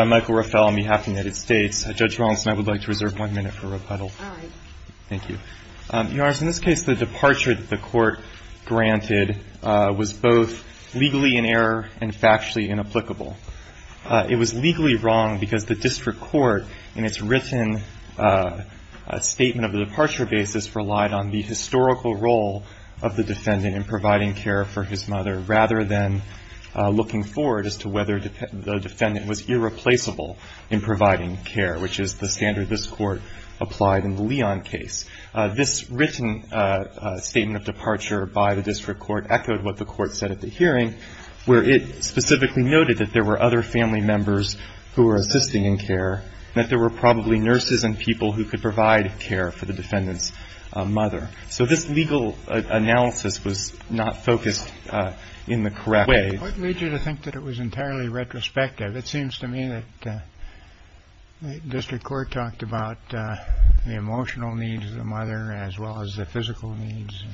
I'm Michael Rafel on behalf of the United States. Judge Rollins and I would like to reserve one minute for rebuttal. I. Thank you. Your Honor, in this case the departure that the court granted was both legally in error and factually inapplicable. It was legally wrong because the district court in its written statement of the departure basis relied on the historical role of the defendant in providing care for his mother rather than looking forward as to whether the defendant was irreplaceable in providing care, which is the standard this Court applied in the Leon case. This written statement of departure by the district court echoed what the Court said at the hearing, where it specifically noted that there were other family members who were people who could provide care for the defendant's mother. So this legal analysis was not focused in the correct way. J. What made you think that it was entirely retrospective? It seems to me that the district court talked about the emotional needs of the mother as well as the physical needs.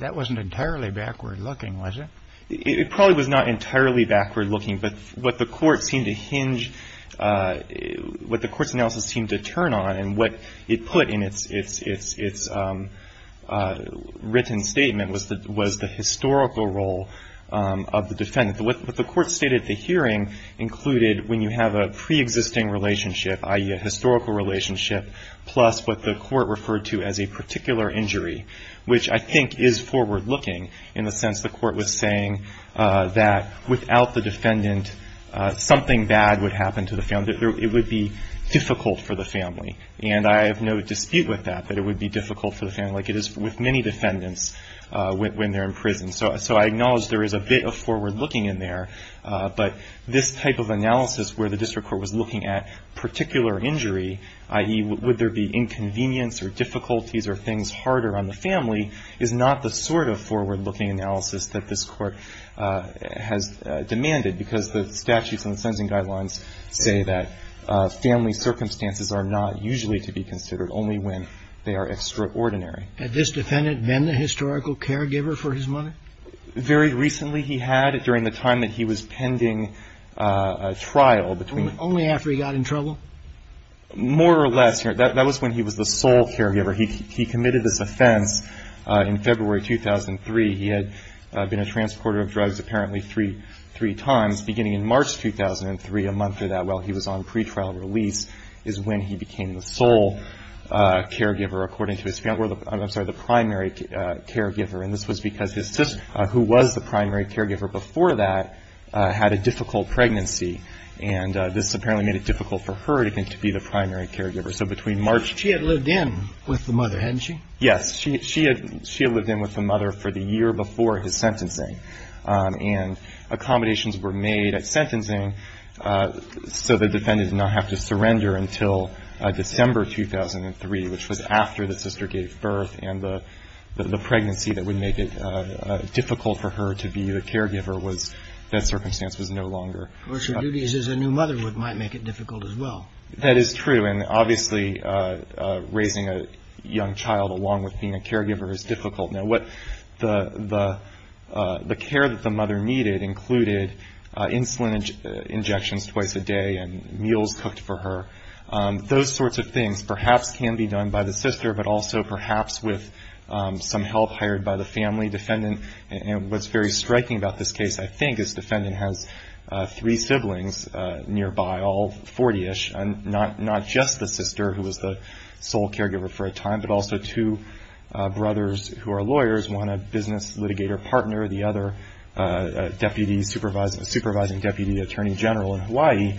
That wasn't entirely backward looking, was it? I. It probably was not entirely backward looking, but what the Court seemed to hinge, what the Court's analysis seemed to turn on and what it put in its written statement was the historical role of the defendant. What the Court stated at the hearing included when you have a preexisting relationship, i.e., a historical relationship, plus what the Court referred to as a particular injury, which I think is forward looking in the sense the Court was saying that without the defendant, something bad would happen to the family. It would be difficult for the family. And I have no dispute with that, that it would be difficult for the family, like it is with many defendants when they're in prison. So I acknowledge there is a bit of forward looking in there, but this type of analysis where the district court was looking at particular injury, i.e., would there be inconvenience or difficulties or things harder on the family, is not the sort of forward looking analysis that this Court has demanded, because the statutes and the sentencing guidelines say that family circumstances are not usually to be considered, only when they are extraordinary. Had this defendant been the historical caregiver for his mother? Very recently he had, during the time that he was pending trial between the two. Only after he got in trouble? More or less. That was when he was the sole caregiver. He committed this offense in February 2003. He had been a transporter of drugs apparently three times. Beginning in March 2003, a month or that while he was on pretrial release, is when he became the sole caregiver, according to his family. I'm sorry, the primary caregiver. And this was because his sister, who was the primary caregiver before that, had a difficult pregnancy. And this apparently made it difficult for her to be the primary caregiver. So between March... She had lived in with the mother, hadn't she? Yes. She had lived in with the mother for the year before his sentencing. And accommodations were made at sentencing so the defendant did not have to surrender until December 2003, which was after the sister gave birth. And the pregnancy that would make it difficult for her to be the caregiver was, that circumstance was no longer. Of course, her duties as a new mother would might make it difficult as well. That is true. And obviously, raising a young child along with being a caregiver is difficult. Now what the care that the mother needed included insulin injections twice a day and meals cooked for her. Those sorts of things perhaps can be done by the sister, but also perhaps with some help hired by the family defendant. And what's very striking about this case, I think, is this defendant has three siblings nearby, all 40-ish, and not just the sister who was the sole caregiver for a time, but also two brothers who are lawyers, one a business litigator partner, the other a supervising deputy attorney general in Hawaii.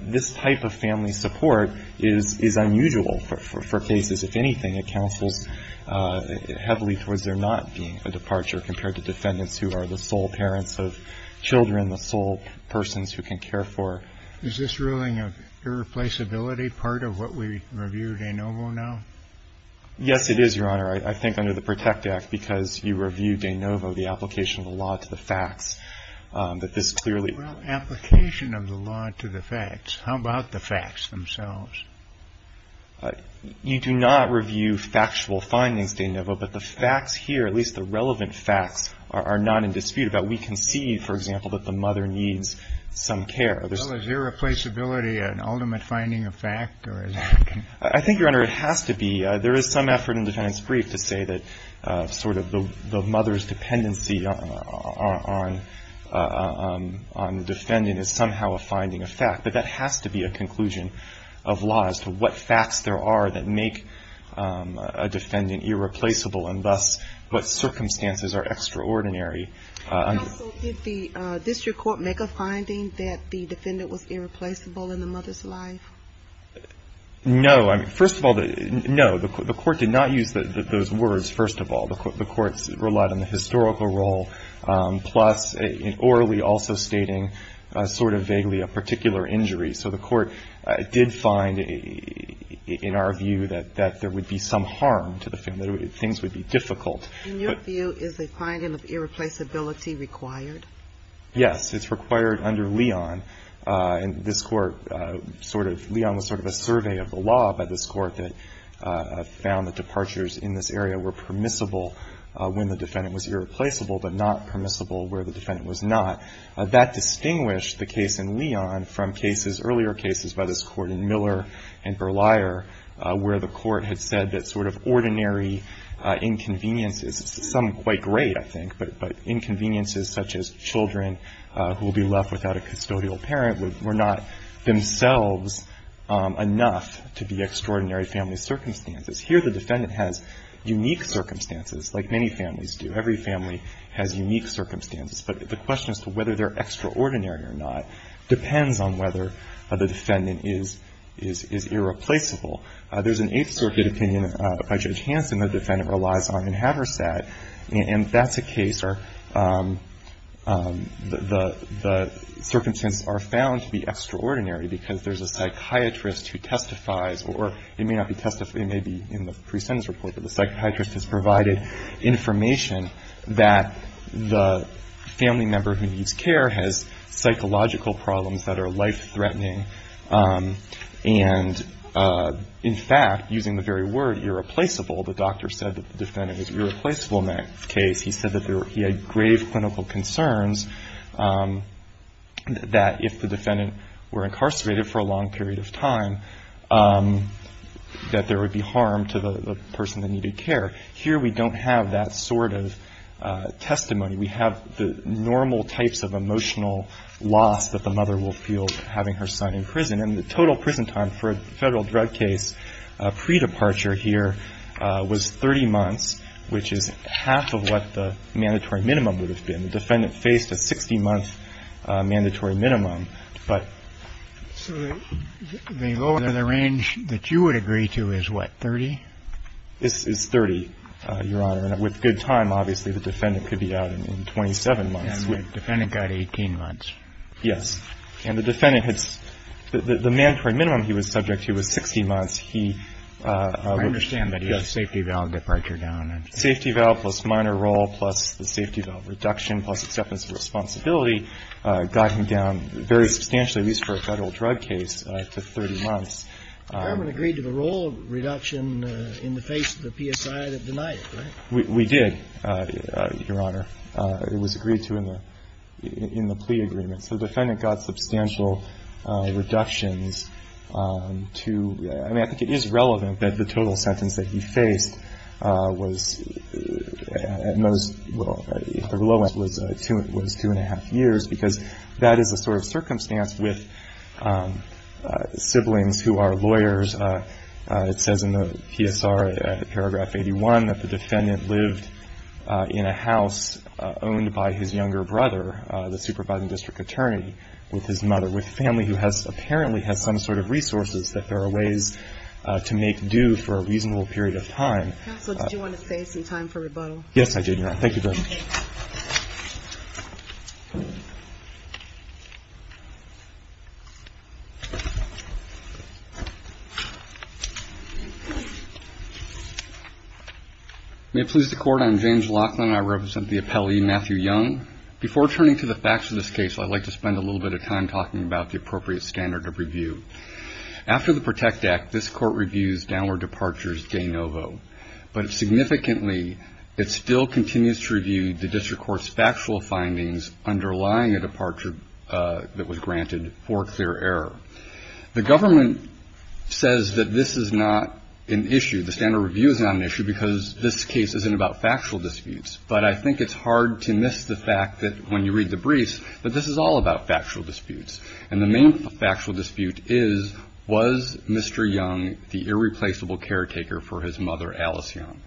This type of family support is unusual for cases. If anything, it counsels heavily towards there not being a departure compared to defendants who are the sole parents of children, the sole persons who can care for. Is this ruling of irreplaceability part of what we review in De Novo now? Yes, it is, Your Honor. I think under the PROTECT Act, because you reviewed De Novo, the application of the law to the facts, that this clearly Well, application of the law to the facts. How about the facts themselves? You do not review factual findings, De Novo, but the facts here, at least the relevant facts, are not in dispute. But we can see, for example, that the mother needs some care. Well, is irreplaceability an ultimate finding of fact, or is it? I think, Your Honor, it has to be. There is some effort in Defendant's Brief to say that sort of the mother's dependency on the defendant is somehow a finding of fact. But that has to be a conclusion of law as to what facts there are that make a defendant irreplaceable, and thus what circumstances are extraordinary. Counsel, did the district court make a finding that the defendant was irreplaceable in the mother's life? No. First of all, no. The court did not use those words, first of all. The court relied on the historical role, plus orally also stating sort of vaguely a particular injury. So the court did find, in our view, that there would be some harm to the family. Things would be difficult. In your view, is a finding of irreplaceability required? Yes. It's required under Leon. And this Court sort of – Leon was sort of a survey of the law by this Court that found that departures in this area were permissible when the defendant was irreplaceable, but not permissible where the defendant was not. That distinguished the case in Leon from cases – earlier cases by this Court in Miller and Berlier, where the court had said that sort of ordinary inconveniences – some quite great, I think, but inconveniences such as children who will be left without a custodial parent were not themselves enough to be extraordinary family circumstances. Here the defendant has unique circumstances, like many families do. Every family has unique circumstances. But the question as to whether they're extraordinary or not depends on whether the defendant is irreplaceable. There's an Eighth Circuit opinion by Judge Hanson that the defendant relies on in Haversad, and that's a case where the circumstances are found to be extraordinary because there's a psychiatrist who testifies – or it may not be testified – it may be in the pre-sentence report, but the psychiatrist has provided information that the family member who needs care has psychological problems that are life-threatening. And, in fact, using the very word irreplaceable, the doctor said that the defendant was irreplaceable in that case. He said that there – he had grave clinical concerns that if the defendant were incarcerated for a long period of time, that there would be harm to the person that needed care. Here we don't have that sort of testimony. We have the normal types of emotional loss that the mother will feel having her son in prison. And the total prison time for a Federal drug case pre-departure here was 30 months, which is half of what the mandatory minimum would have been. The defendant faced a 60-month mandatory minimum, but – And the minimum that you would agree to is what, 30? It's 30, Your Honor. And with good time, obviously, the defendant could be out in 27 months. And the defendant got 18 months. Yes. And the defendant had – the mandatory minimum he was subject to was 60 months. He – I understand that he had a safety valve departure down. Safety valve plus minor role plus the safety valve reduction plus acceptance of responsibility got him down very substantially, at least for a Federal drug case, to 30 months. The government agreed to the role reduction in the face of the PSI that denied it, right? We did, Your Honor. It was agreed to in the plea agreement. So the defendant got substantial reductions to – I mean, I think it is relevant that the total was two and a half years, because that is the sort of circumstance with siblings who are lawyers. It says in the PSR, paragraph 81, that the defendant lived in a house owned by his younger brother, the supervising district attorney, with his mother, with a family who has – apparently has some sort of resources that there are ways to make due for a reasonable period of time. Yes, I do, Your Honor. Thank you very much. May it please the Court, I'm James Laughlin. I represent the appellee, Matthew Young. Before turning to the facts of this case, I'd like to spend a little bit of time talking about the appropriate standard of review. After the PROTECT Act, this Court reviews downward departures de novo. But significantly, it still continues to review the district court's factual findings underlying a departure that was granted for clear error. The government says that this is not an issue, the standard of review is not an issue, because this case isn't about factual disputes. But I think it's hard to miss the fact that when you read the briefs, that this is all about factual disputes. And the main factual dispute is, was Mr. Young the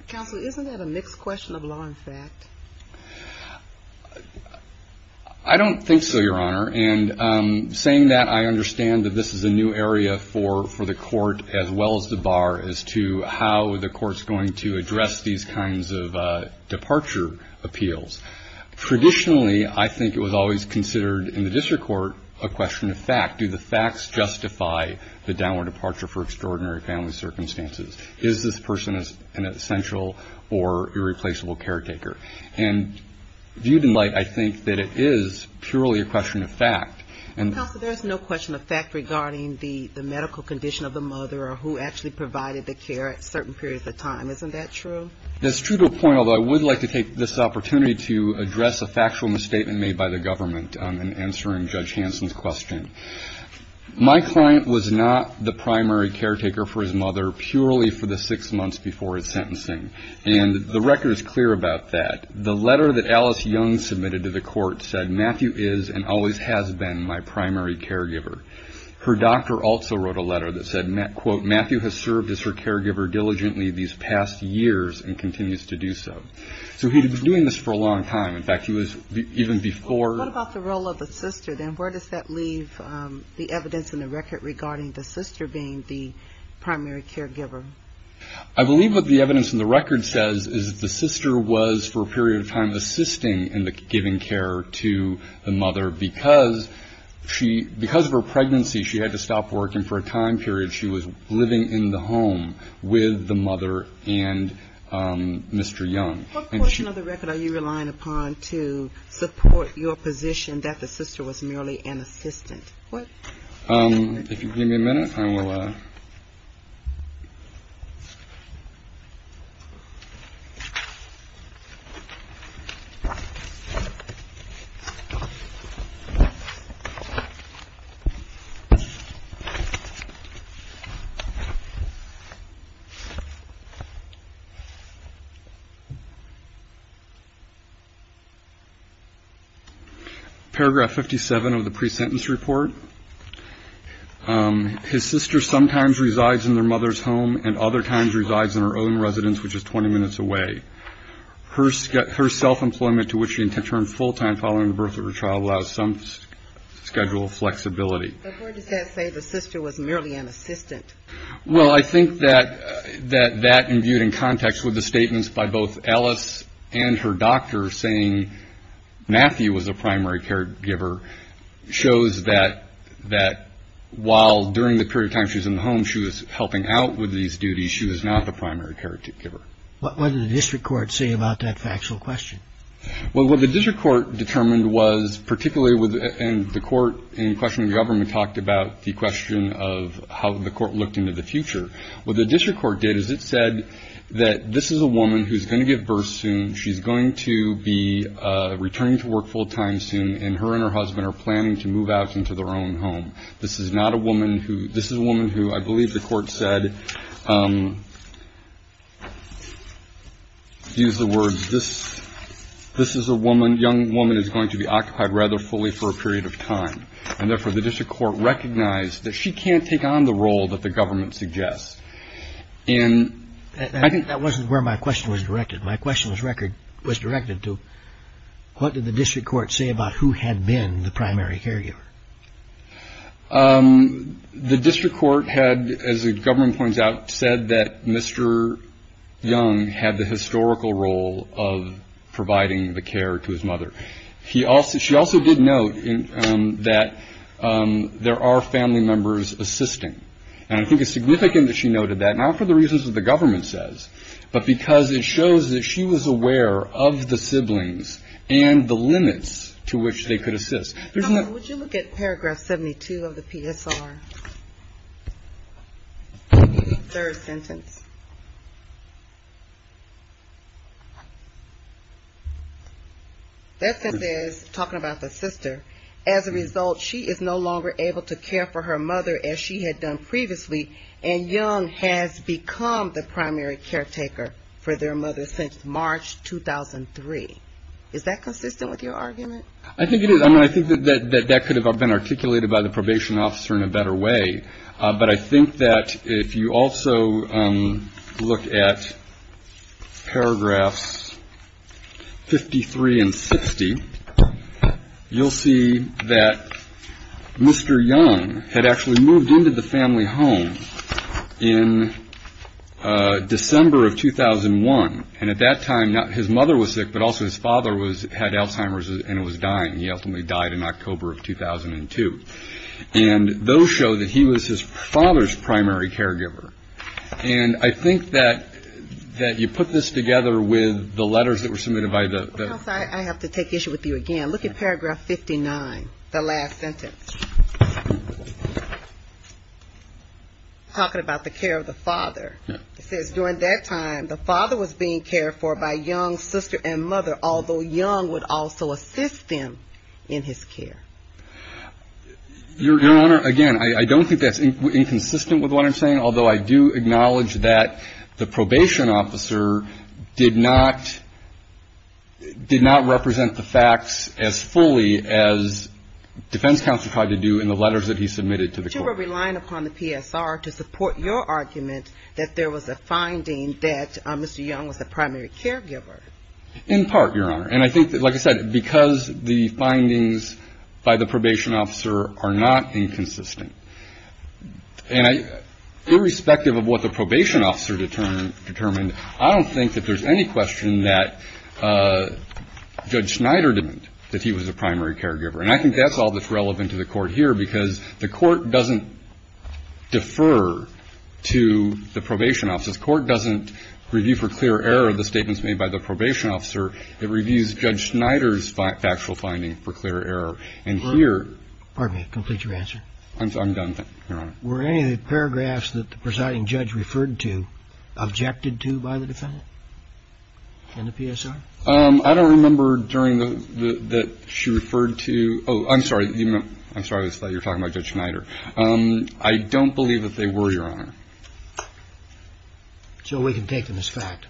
Counsel, isn't that a mixed question of law and fact? I don't think so, Your Honor. And saying that, I understand that this is a new area for the Court, as well as the Bar, as to how the Court's going to address these kinds of departure appeals. Traditionally, I think it was always considered in the district court a question of fact. Do the facts justify the downward departure for an essential or irreplaceable caretaker? And viewed in light, I think that it is purely a question of fact. Counsel, there's no question of fact regarding the medical condition of the mother or who actually provided the care at certain periods of time, isn't that true? That's true to a point, although I would like to take this opportunity to address a little bit more with sentencing. And the record is clear about that. The letter that Alice Young submitted to the Court said, Matthew is and always has been my primary caregiver. Her doctor also wrote a letter that said, quote, Matthew has served as her caregiver diligently these past years and continues to do so. So he's been doing this for a long time. In fact, he was even before... What the evidence in the record says is that the sister was, for a period of time, assisting in the giving care to the mother because of her pregnancy, she had to stop working for a time period. She was living in the home with the mother and Mr. Young. What portion of the record are you relying upon to support your position that the sister was merely an assistant? If you give me a minute, I will... Paragraph 57 of the pre-sentence report. His sister sometimes resides in their mother's home and other times resides in her own residence, which is 20 minutes away. Her self-employment, to which she intends to return full-time following the birth of her child, allows some schedule of flexibility. But where does that say the sister was merely an assistant? Well, I think that that imbued in context with the statements by both Alice and her doctor saying Matthew was a primary caregiver shows that while during the period of time she was in the home, she was helping out with these duties, she was not the primary caregiver. What did the district court say about that factual question? Well, what the district court determined was particularly within the court in question of government talked about the question of how the court looked into the future. What the district court did is it said that this is a woman who's going to give birth soon. She's going to be returning to work full time soon. And her and her husband are planning to move out into their own home. This is not a woman who this is a woman who I believe the court said used the word this. This is a woman. Young woman is going to be occupied rather fully for a period of time. And therefore, the district court recognized that she can't take on the role that the government suggests. And I think that wasn't where my question was directed. My question was record was directed to what did the district court say about who had been the primary caregiver? The district court had, as the government points out, said that Mr. Young had the historical role of providing the care to his mother. She also did note that there are family members assisting. And I think it's significant that she noted that, not for the reasons that the government says, but because it shows that she was aware of the siblings and the limits to which they could assist. Would you look at paragraph 72 of the PSR? Third sentence. Talking about the sister, as a result, she is no longer able to care for her mother as she had done previously, and Young has become the primary caretaker for their mother since March 2003. Is that consistent with your argument? I think it is. I mean, I think that that could have been articulated by the probation officer in a better way. But I think that if you also look at paragraphs 53 and 60, you'll see that Mr. Young had actually moved into the family home in December of 2001. And at that time, his mother was sick, but also his father had Alzheimer's and was dying. He ultimately died in October of 2002. And those show that he was his father's primary caregiver. And I think that you put this together with the letters that were submitted by the I have to take issue with you again. Look at paragraph 59, the last sentence. Talking about the care of the father, it says during that time, the father was being cared for by Young's sister and mother, although Young would also assist him in his care. Your Honor, again, I don't think that's inconsistent with what I'm saying, although I do acknowledge that the as fully as defense counsel tried to do in the letters that he submitted to the court. You were relying upon the PSR to support your argument that there was a finding that Mr. Young was a primary caregiver. In part, Your Honor. And I think that, like I said, because the findings by the probation officer are not inconsistent. And irrespective of what the probation officer determined, I don't think that there's any question that Judge Schneider was a primary caregiver. And I think that's all that's relevant to the court here, because the court doesn't defer to the probation officer. The court doesn't review for clear error the statements made by the probation officer. It reviews Judge Schneider's factual finding for clear error. And here. Pardon me. Complete your answer. I'm done. Your Honor. Were any of the paragraphs that the presiding judge referred to objected to by the defendant in the PSR? I don't remember during the – that she referred to – oh, I'm sorry. I'm sorry, I thought you were talking about Judge Schneider. I don't believe that they were, Your Honor. So we can take them as fact.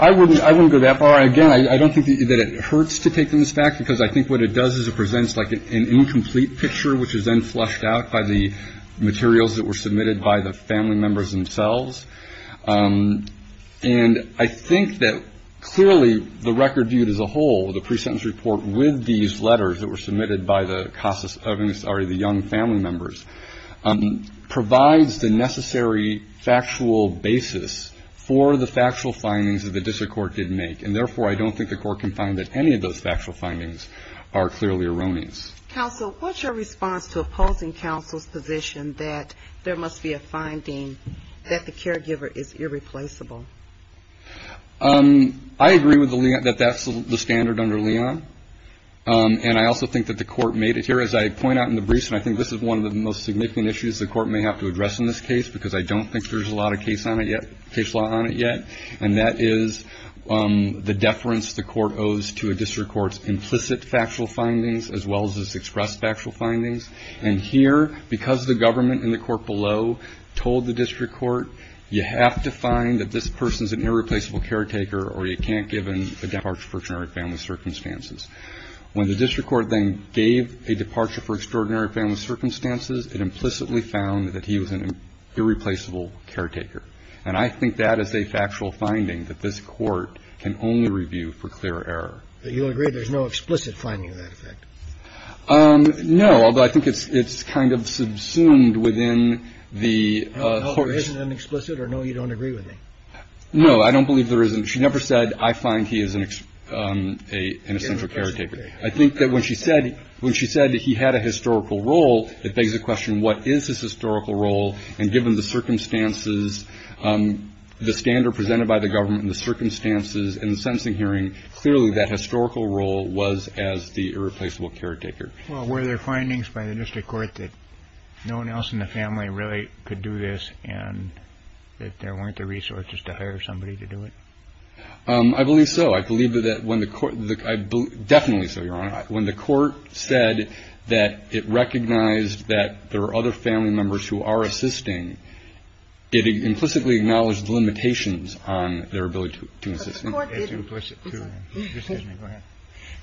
I wouldn't go that far. Again, I don't think that it hurts to take them as fact, because I think what it does is it presents like an incomplete picture, which is then flushed out by the materials that were submitted by the family members themselves. And I think that clearly the record viewed as a whole, the pre-sentence report with these letters that were submitted by the CASA – I'm sorry, the young family members, provides the necessary factual basis for the factual findings that the district court did make. And therefore, I don't think the court can find that any of those factual findings are clearly erroneous. Counsel, what's your response to opposing counsel's position that there must be a finding that the caregiver is irreplaceable? I agree that that's the standard under Leon. And I also think that the court made it here. As I point out in the briefs, and I think this is one of the most significant issues the court may have to address in this case, because I don't think there's a lot of case law on it yet. And that is the deference the court owes to a district court's implicit factual findings as well as its expressed factual findings. And here, because the government in the court below told the district court, you have to find that this person's an irreplaceable caretaker or you can't give him a departure for extraordinary family circumstances. When the district court then gave a departure for extraordinary family circumstances, it implicitly found that he was an irreplaceable caretaker. And I think that is a factual finding that this court can only review for clear error. Do you agree there's no explicit finding of that effect? No, although I think it's kind of subsumed within the court's. No, there isn't an explicit or no, you don't agree with me? No, I don't believe there isn't. She never said, I find he is an essential caretaker. I think that when she said he had a historical role, it begs the question, what is his historical role? And given the circumstances, the standard presented by the government and the circumstances in the sentencing hearing, clearly that historical role was as the irreplaceable caretaker. Well, were there findings by the district court that no one else in the family really could do this and that there weren't the resources to hire somebody to do it? I believe so. I believe that when the court, definitely so, Your Honor. When the court said that it recognized that there are other family members who are assisting, it implicitly acknowledged the limitations on their ability to assist.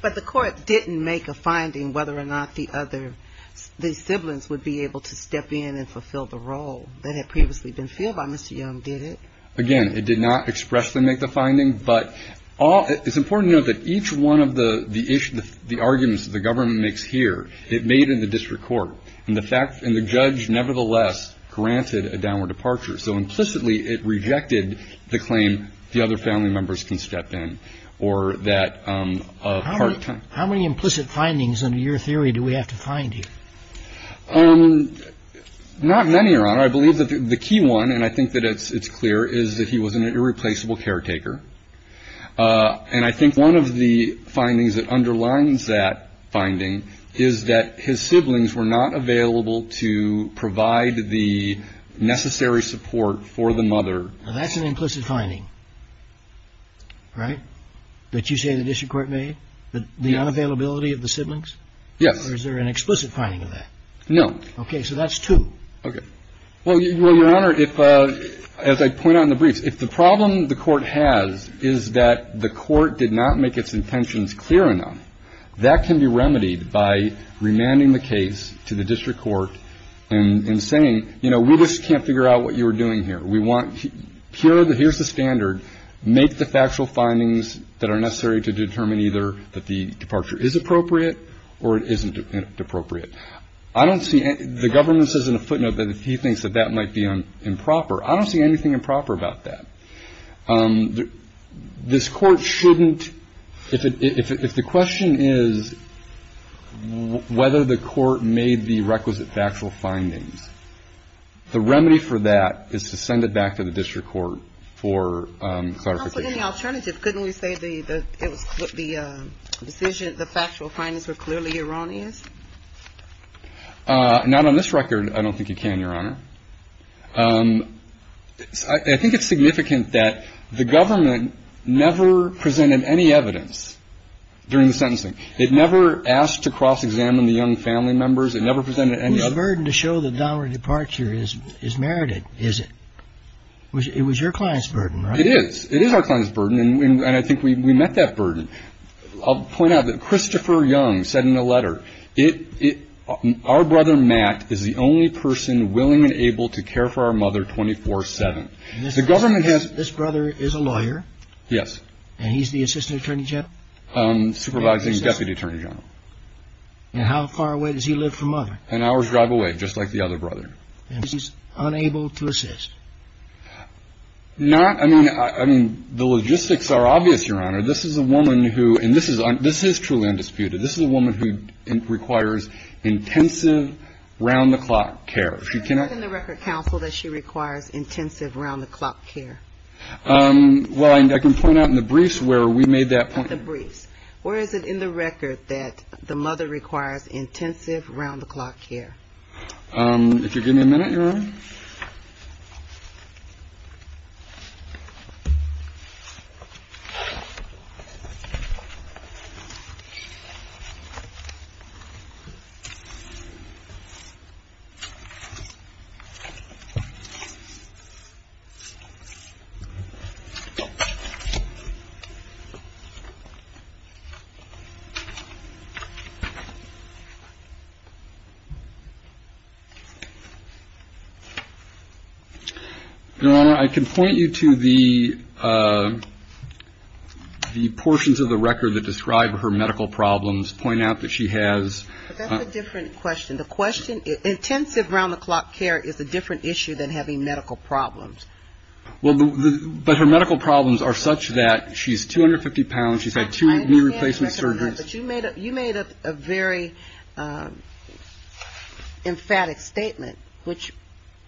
But the court didn't make a finding whether or not the other, the siblings would be able to step in and fulfill the role that had previously been filled by Mr. Young, did it? Again, it did not expressly make the finding, but it's important to note that each one of the arguments that the government makes here, it made in the district court, and the judge nevertheless granted a downward departure. So implicitly it rejected the claim the other family members can step in or that part time. How many implicit findings under your theory do we have to find here? Not many, Your Honor. I believe that the key one, and I think that it's clear, is that he was an irreplaceable caretaker. And I think one of the findings that underlines that finding is that his siblings were not available to provide the necessary support for the mother. That's an implicit finding, right? That you say the district court made? The unavailability of the siblings? Yes. Or is there an explicit finding of that? No. Okay. So that's two. Okay. Well, Your Honor, if, as I point out in the briefs, if the problem the court has is that the court did not make its intentions clear enough, that can be remedied by remanding the case to the district court and saying, you know, we just can't figure out what you were doing here. We want here's the standard. Make the factual findings that are necessary to determine either that the departure is appropriate or it isn't appropriate. I don't see the government says in a footnote that he thinks that that might be improper. I don't see anything improper about that. This court shouldn't, if the question is whether the court made the requisite factual findings, the remedy for that is to send it back to the district court for clarification. I don't think you can, Your Honor. I think it's significant that the government never presented any evidence during the sentencing. It never asked to cross-examine the young family members. It never presented any other. Whose burden to show the dowry departure is merited, is it? It was your client's burden, right? It is. It is our client's burden. It is our client's burden, and I think we met that burden. I'll point out that Christopher Young said in a letter, our brother, Matt, is the only person willing and able to care for our mother 24-7. This brother is a lawyer? Yes. And he's the assistant attorney general? Supervising deputy attorney general. And how far away does he live from mother? An hour's drive away, just like the other brother. And he's unable to assist? Not, I mean, the logistics are obvious, Your Honor. This is a woman who, and this is truly undisputed, this is a woman who requires intensive, round-the-clock care. She cannot. Where is it in the record, counsel, that she requires intensive, round-the-clock care? Well, I can point out in the briefs where we made that point. In the briefs. Where is it in the record that the mother requires intensive, round-the-clock care? If you'll give me a minute, Your Honor. Thank you. Your Honor, I can point you to the portions of the record that describe her medical problems, point out that she has. But that's a different question. The question, intensive, round-the-clock care is a different issue than having medical problems. Well, but her medical problems are such that she's 250 pounds, she's had two knee replacement surgeries. But you made a very emphatic statement, which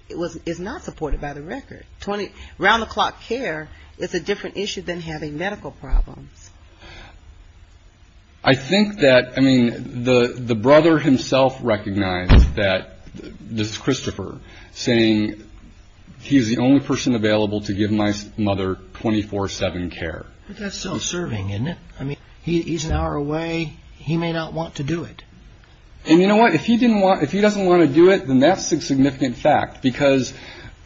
is not supported by the record. Round-the-clock care is a different issue than having medical problems. I think that, I mean, the brother himself recognized that, this is Christopher, saying he's the only person available to give my mother 24-7 care. But that's self-serving, isn't it? I mean, he's an hour away. He may not want to do it. And you know what? If he doesn't want to do it, then that's a significant fact. Because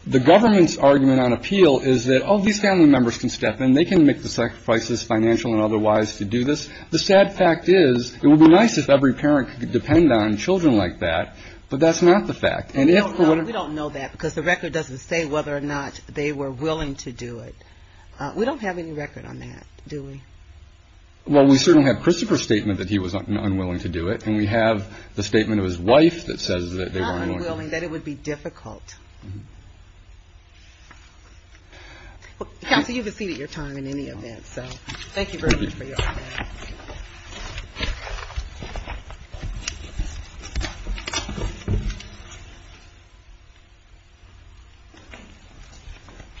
the government's argument on appeal is that, oh, these family members can step in. They can make the sacrifices, financial and otherwise, to do this. The sad fact is it would be nice if every parent could depend on children like that. But that's not the fact. We don't know that because the record doesn't say whether or not they were willing to do it. We don't have any record on that, do we? Well, we certainly have Christopher's statement that he was unwilling to do it. And we have the statement of his wife that says that they were unwilling. Not unwilling, that it would be difficult. Counsel, you have a seat at your time in any event. So thank you very much for your time.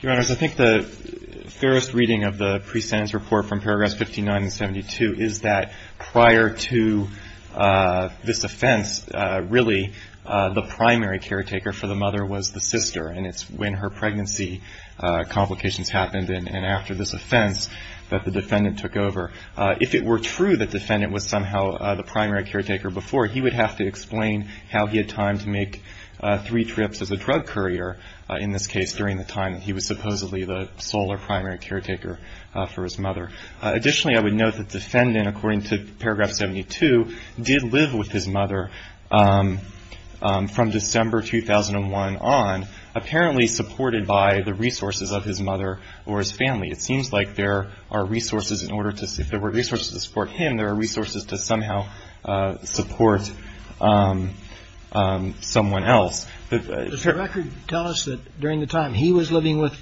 Your Honors, I think the thoroughest reading of the pre-sentence report from Paragraphs 59 and 72 is that prior to this offense, really the primary caretaker for the mother was the sister. And it's when her pregnancy complications happened and after this offense that the defendant took over. If it were true that the defendant was somehow the primary caretaker before, he would have to explain how he had time to make three trips as a drug courier, in this case, during the time that he was supposedly the sole or primary caretaker for his mother. Additionally, I would note that the defendant, according to Paragraph 72, did live with his mother from December 2001 on, apparently supported by the resources of his mother or his family. It seems like there are resources in order to, if there were resources to support him, there are resources to somehow support someone else. Does the record tell us that during the time he was living with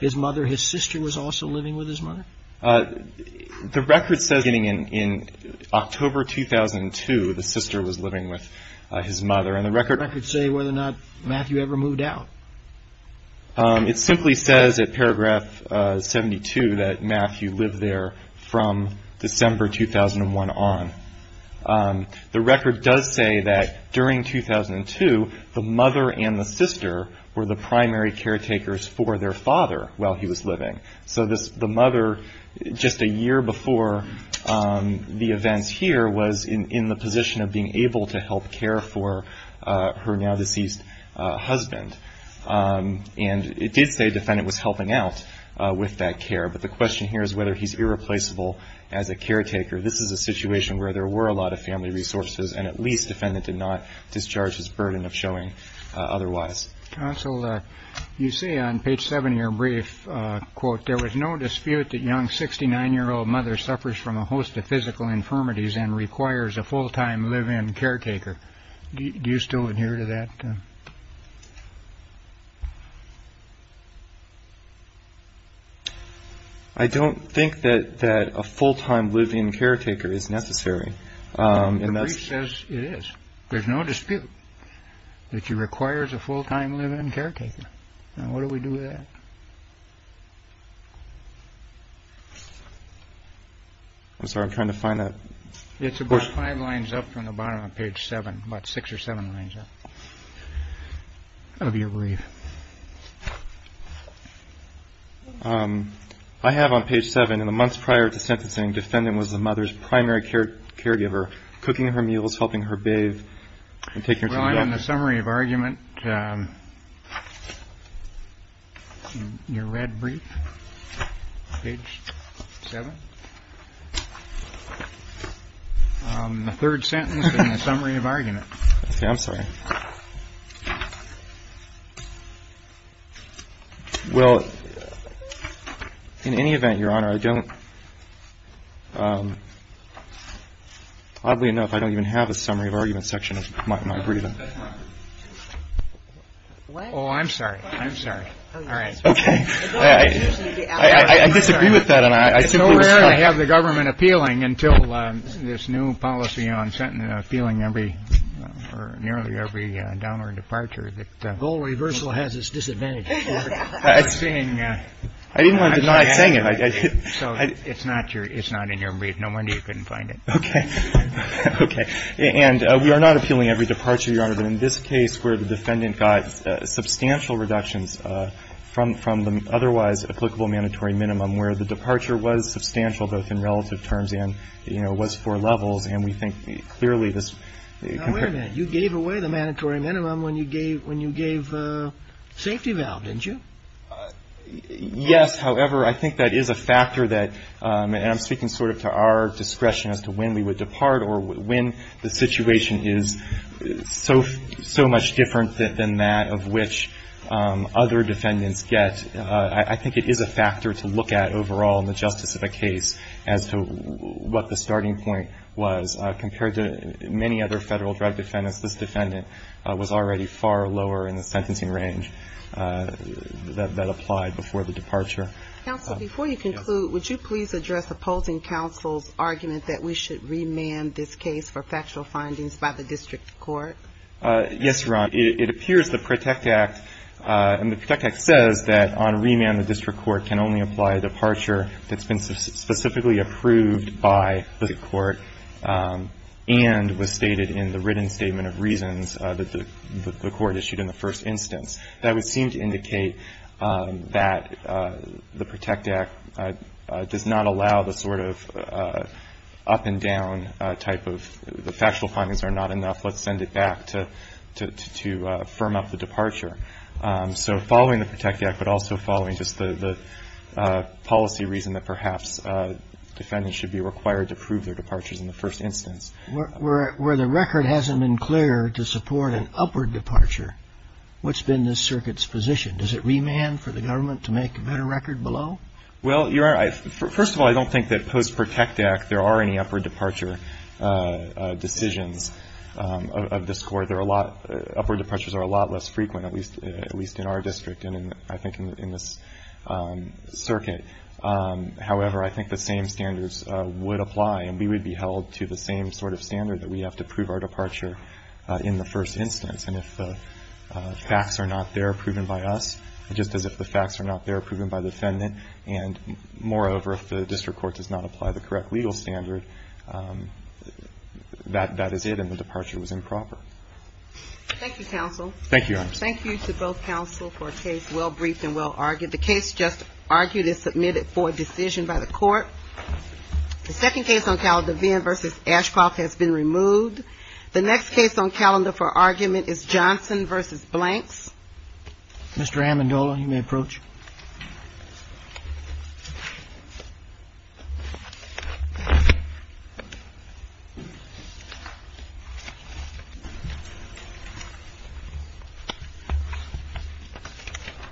his mother, his sister was also living with his mother? The record says beginning in October 2002, the sister was living with his mother. Does the record say whether or not Matthew ever moved out? It simply says at Paragraph 72 that Matthew lived there from December 2001 on. The record does say that during 2002, the mother and the sister were the primary caretakers for their father while he was living. So the mother, just a year before the events here, was in the position of being able to help care for her now-deceased husband. And it did say the defendant was helping out with that care, but the question here is whether he's irreplaceable as a caretaker. This is a situation where there were a lot of family resources, and at least the defendant did not discharge his burden of showing otherwise. Counsel, you say on page 70 of your brief, quote, there was no dispute that young 69-year-old mother suffers from a host of physical infirmities and requires a full-time live-in caretaker. Do you still adhere to that? I don't think that a full-time live-in caretaker is necessary. The brief says it is. There's no dispute that she requires a full-time live-in caretaker. Now, what do we do with that? I'm sorry, I'm trying to find that. It's about five lines up from the bottom of page seven, about six or seven lines up of your brief. I have on page seven, in the months prior to sentencing, defendant was the mother's primary caregiver, cooking her meals, helping her bathe, and taking her to the doctor. Well, in the summary of argument, your red brief, page seven, the third sentence in the summary of argument. I'm sorry. Well, in any event, Your Honor, I don't, oddly enough, I don't even have a summary of argument section of my brief. Oh, I'm sorry. I'm sorry. All right. Okay. I disagree with that. It's so rare to have the government appealing until this new policy on appealing every, nearly every downward departure. The whole reversal has its disadvantages. I didn't want to deny saying it. So it's not in your brief. No wonder you couldn't find it. Okay. Okay. And we are not appealing every departure, Your Honor. But in this case where the defendant got substantial reductions from the otherwise applicable mandatory minimum, where the departure was substantial, both in relative terms and, you know, was four levels, and we think clearly this Now, wait a minute. You gave away the mandatory minimum when you gave safety valve, didn't you? Yes. However, I think that is a factor that, and I'm speaking sort of to our discretion as to when we would depart or when the situation is so much different than that of which other defendants get. I think it is a factor to look at overall in the justice of a case as to what the starting point was. Compared to many other Federal drug defendants, this defendant was already far lower in the sentencing range that applied before the departure. Counsel, before you conclude, would you please address opposing counsel's argument that we should remand this case for factual findings by the district court? Yes, Your Honor. It appears the PROTECT Act, and the PROTECT Act says that on remand the district court can only apply a departure that's been specifically approved by the court and was stated in the written statement of reasons that the court issued in the first instance. That would seem to indicate that the PROTECT Act does not allow the sort of up-and-down type of the factual findings are not enough. Let's send it back to firm up the departure. So following the PROTECT Act, but also following just the policy reason that perhaps defendants should be required to prove their departures in the first instance. Where the record hasn't been clear to support an upward departure, what's been this circuit's position? Does it remand for the government to make a better record below? Well, Your Honor, first of all, I don't think that post-PROTECT Act there are any of the score. There are a lot, upward departures are a lot less frequent, at least in our district and I think in this circuit. However, I think the same standards would apply, and we would be held to the same sort of standard that we have to prove our departure in the first instance. And if the facts are not there proven by us, just as if the facts are not there proven by defendant, and moreover, if the district court does not apply the correct legal standard, that is it, and the departure was improper. Thank you, counsel. Thank you, Your Honor. Thank you to both counsel for a case well-briefed and well-argued. The case just argued is submitted for decision by the court. The second case on calendar, Venn v. Ashcroft, has been removed. The next case on calendar for argument is Johnson v. Blanks. Mr. Amendola, you may approach. Thank you, Your Honor.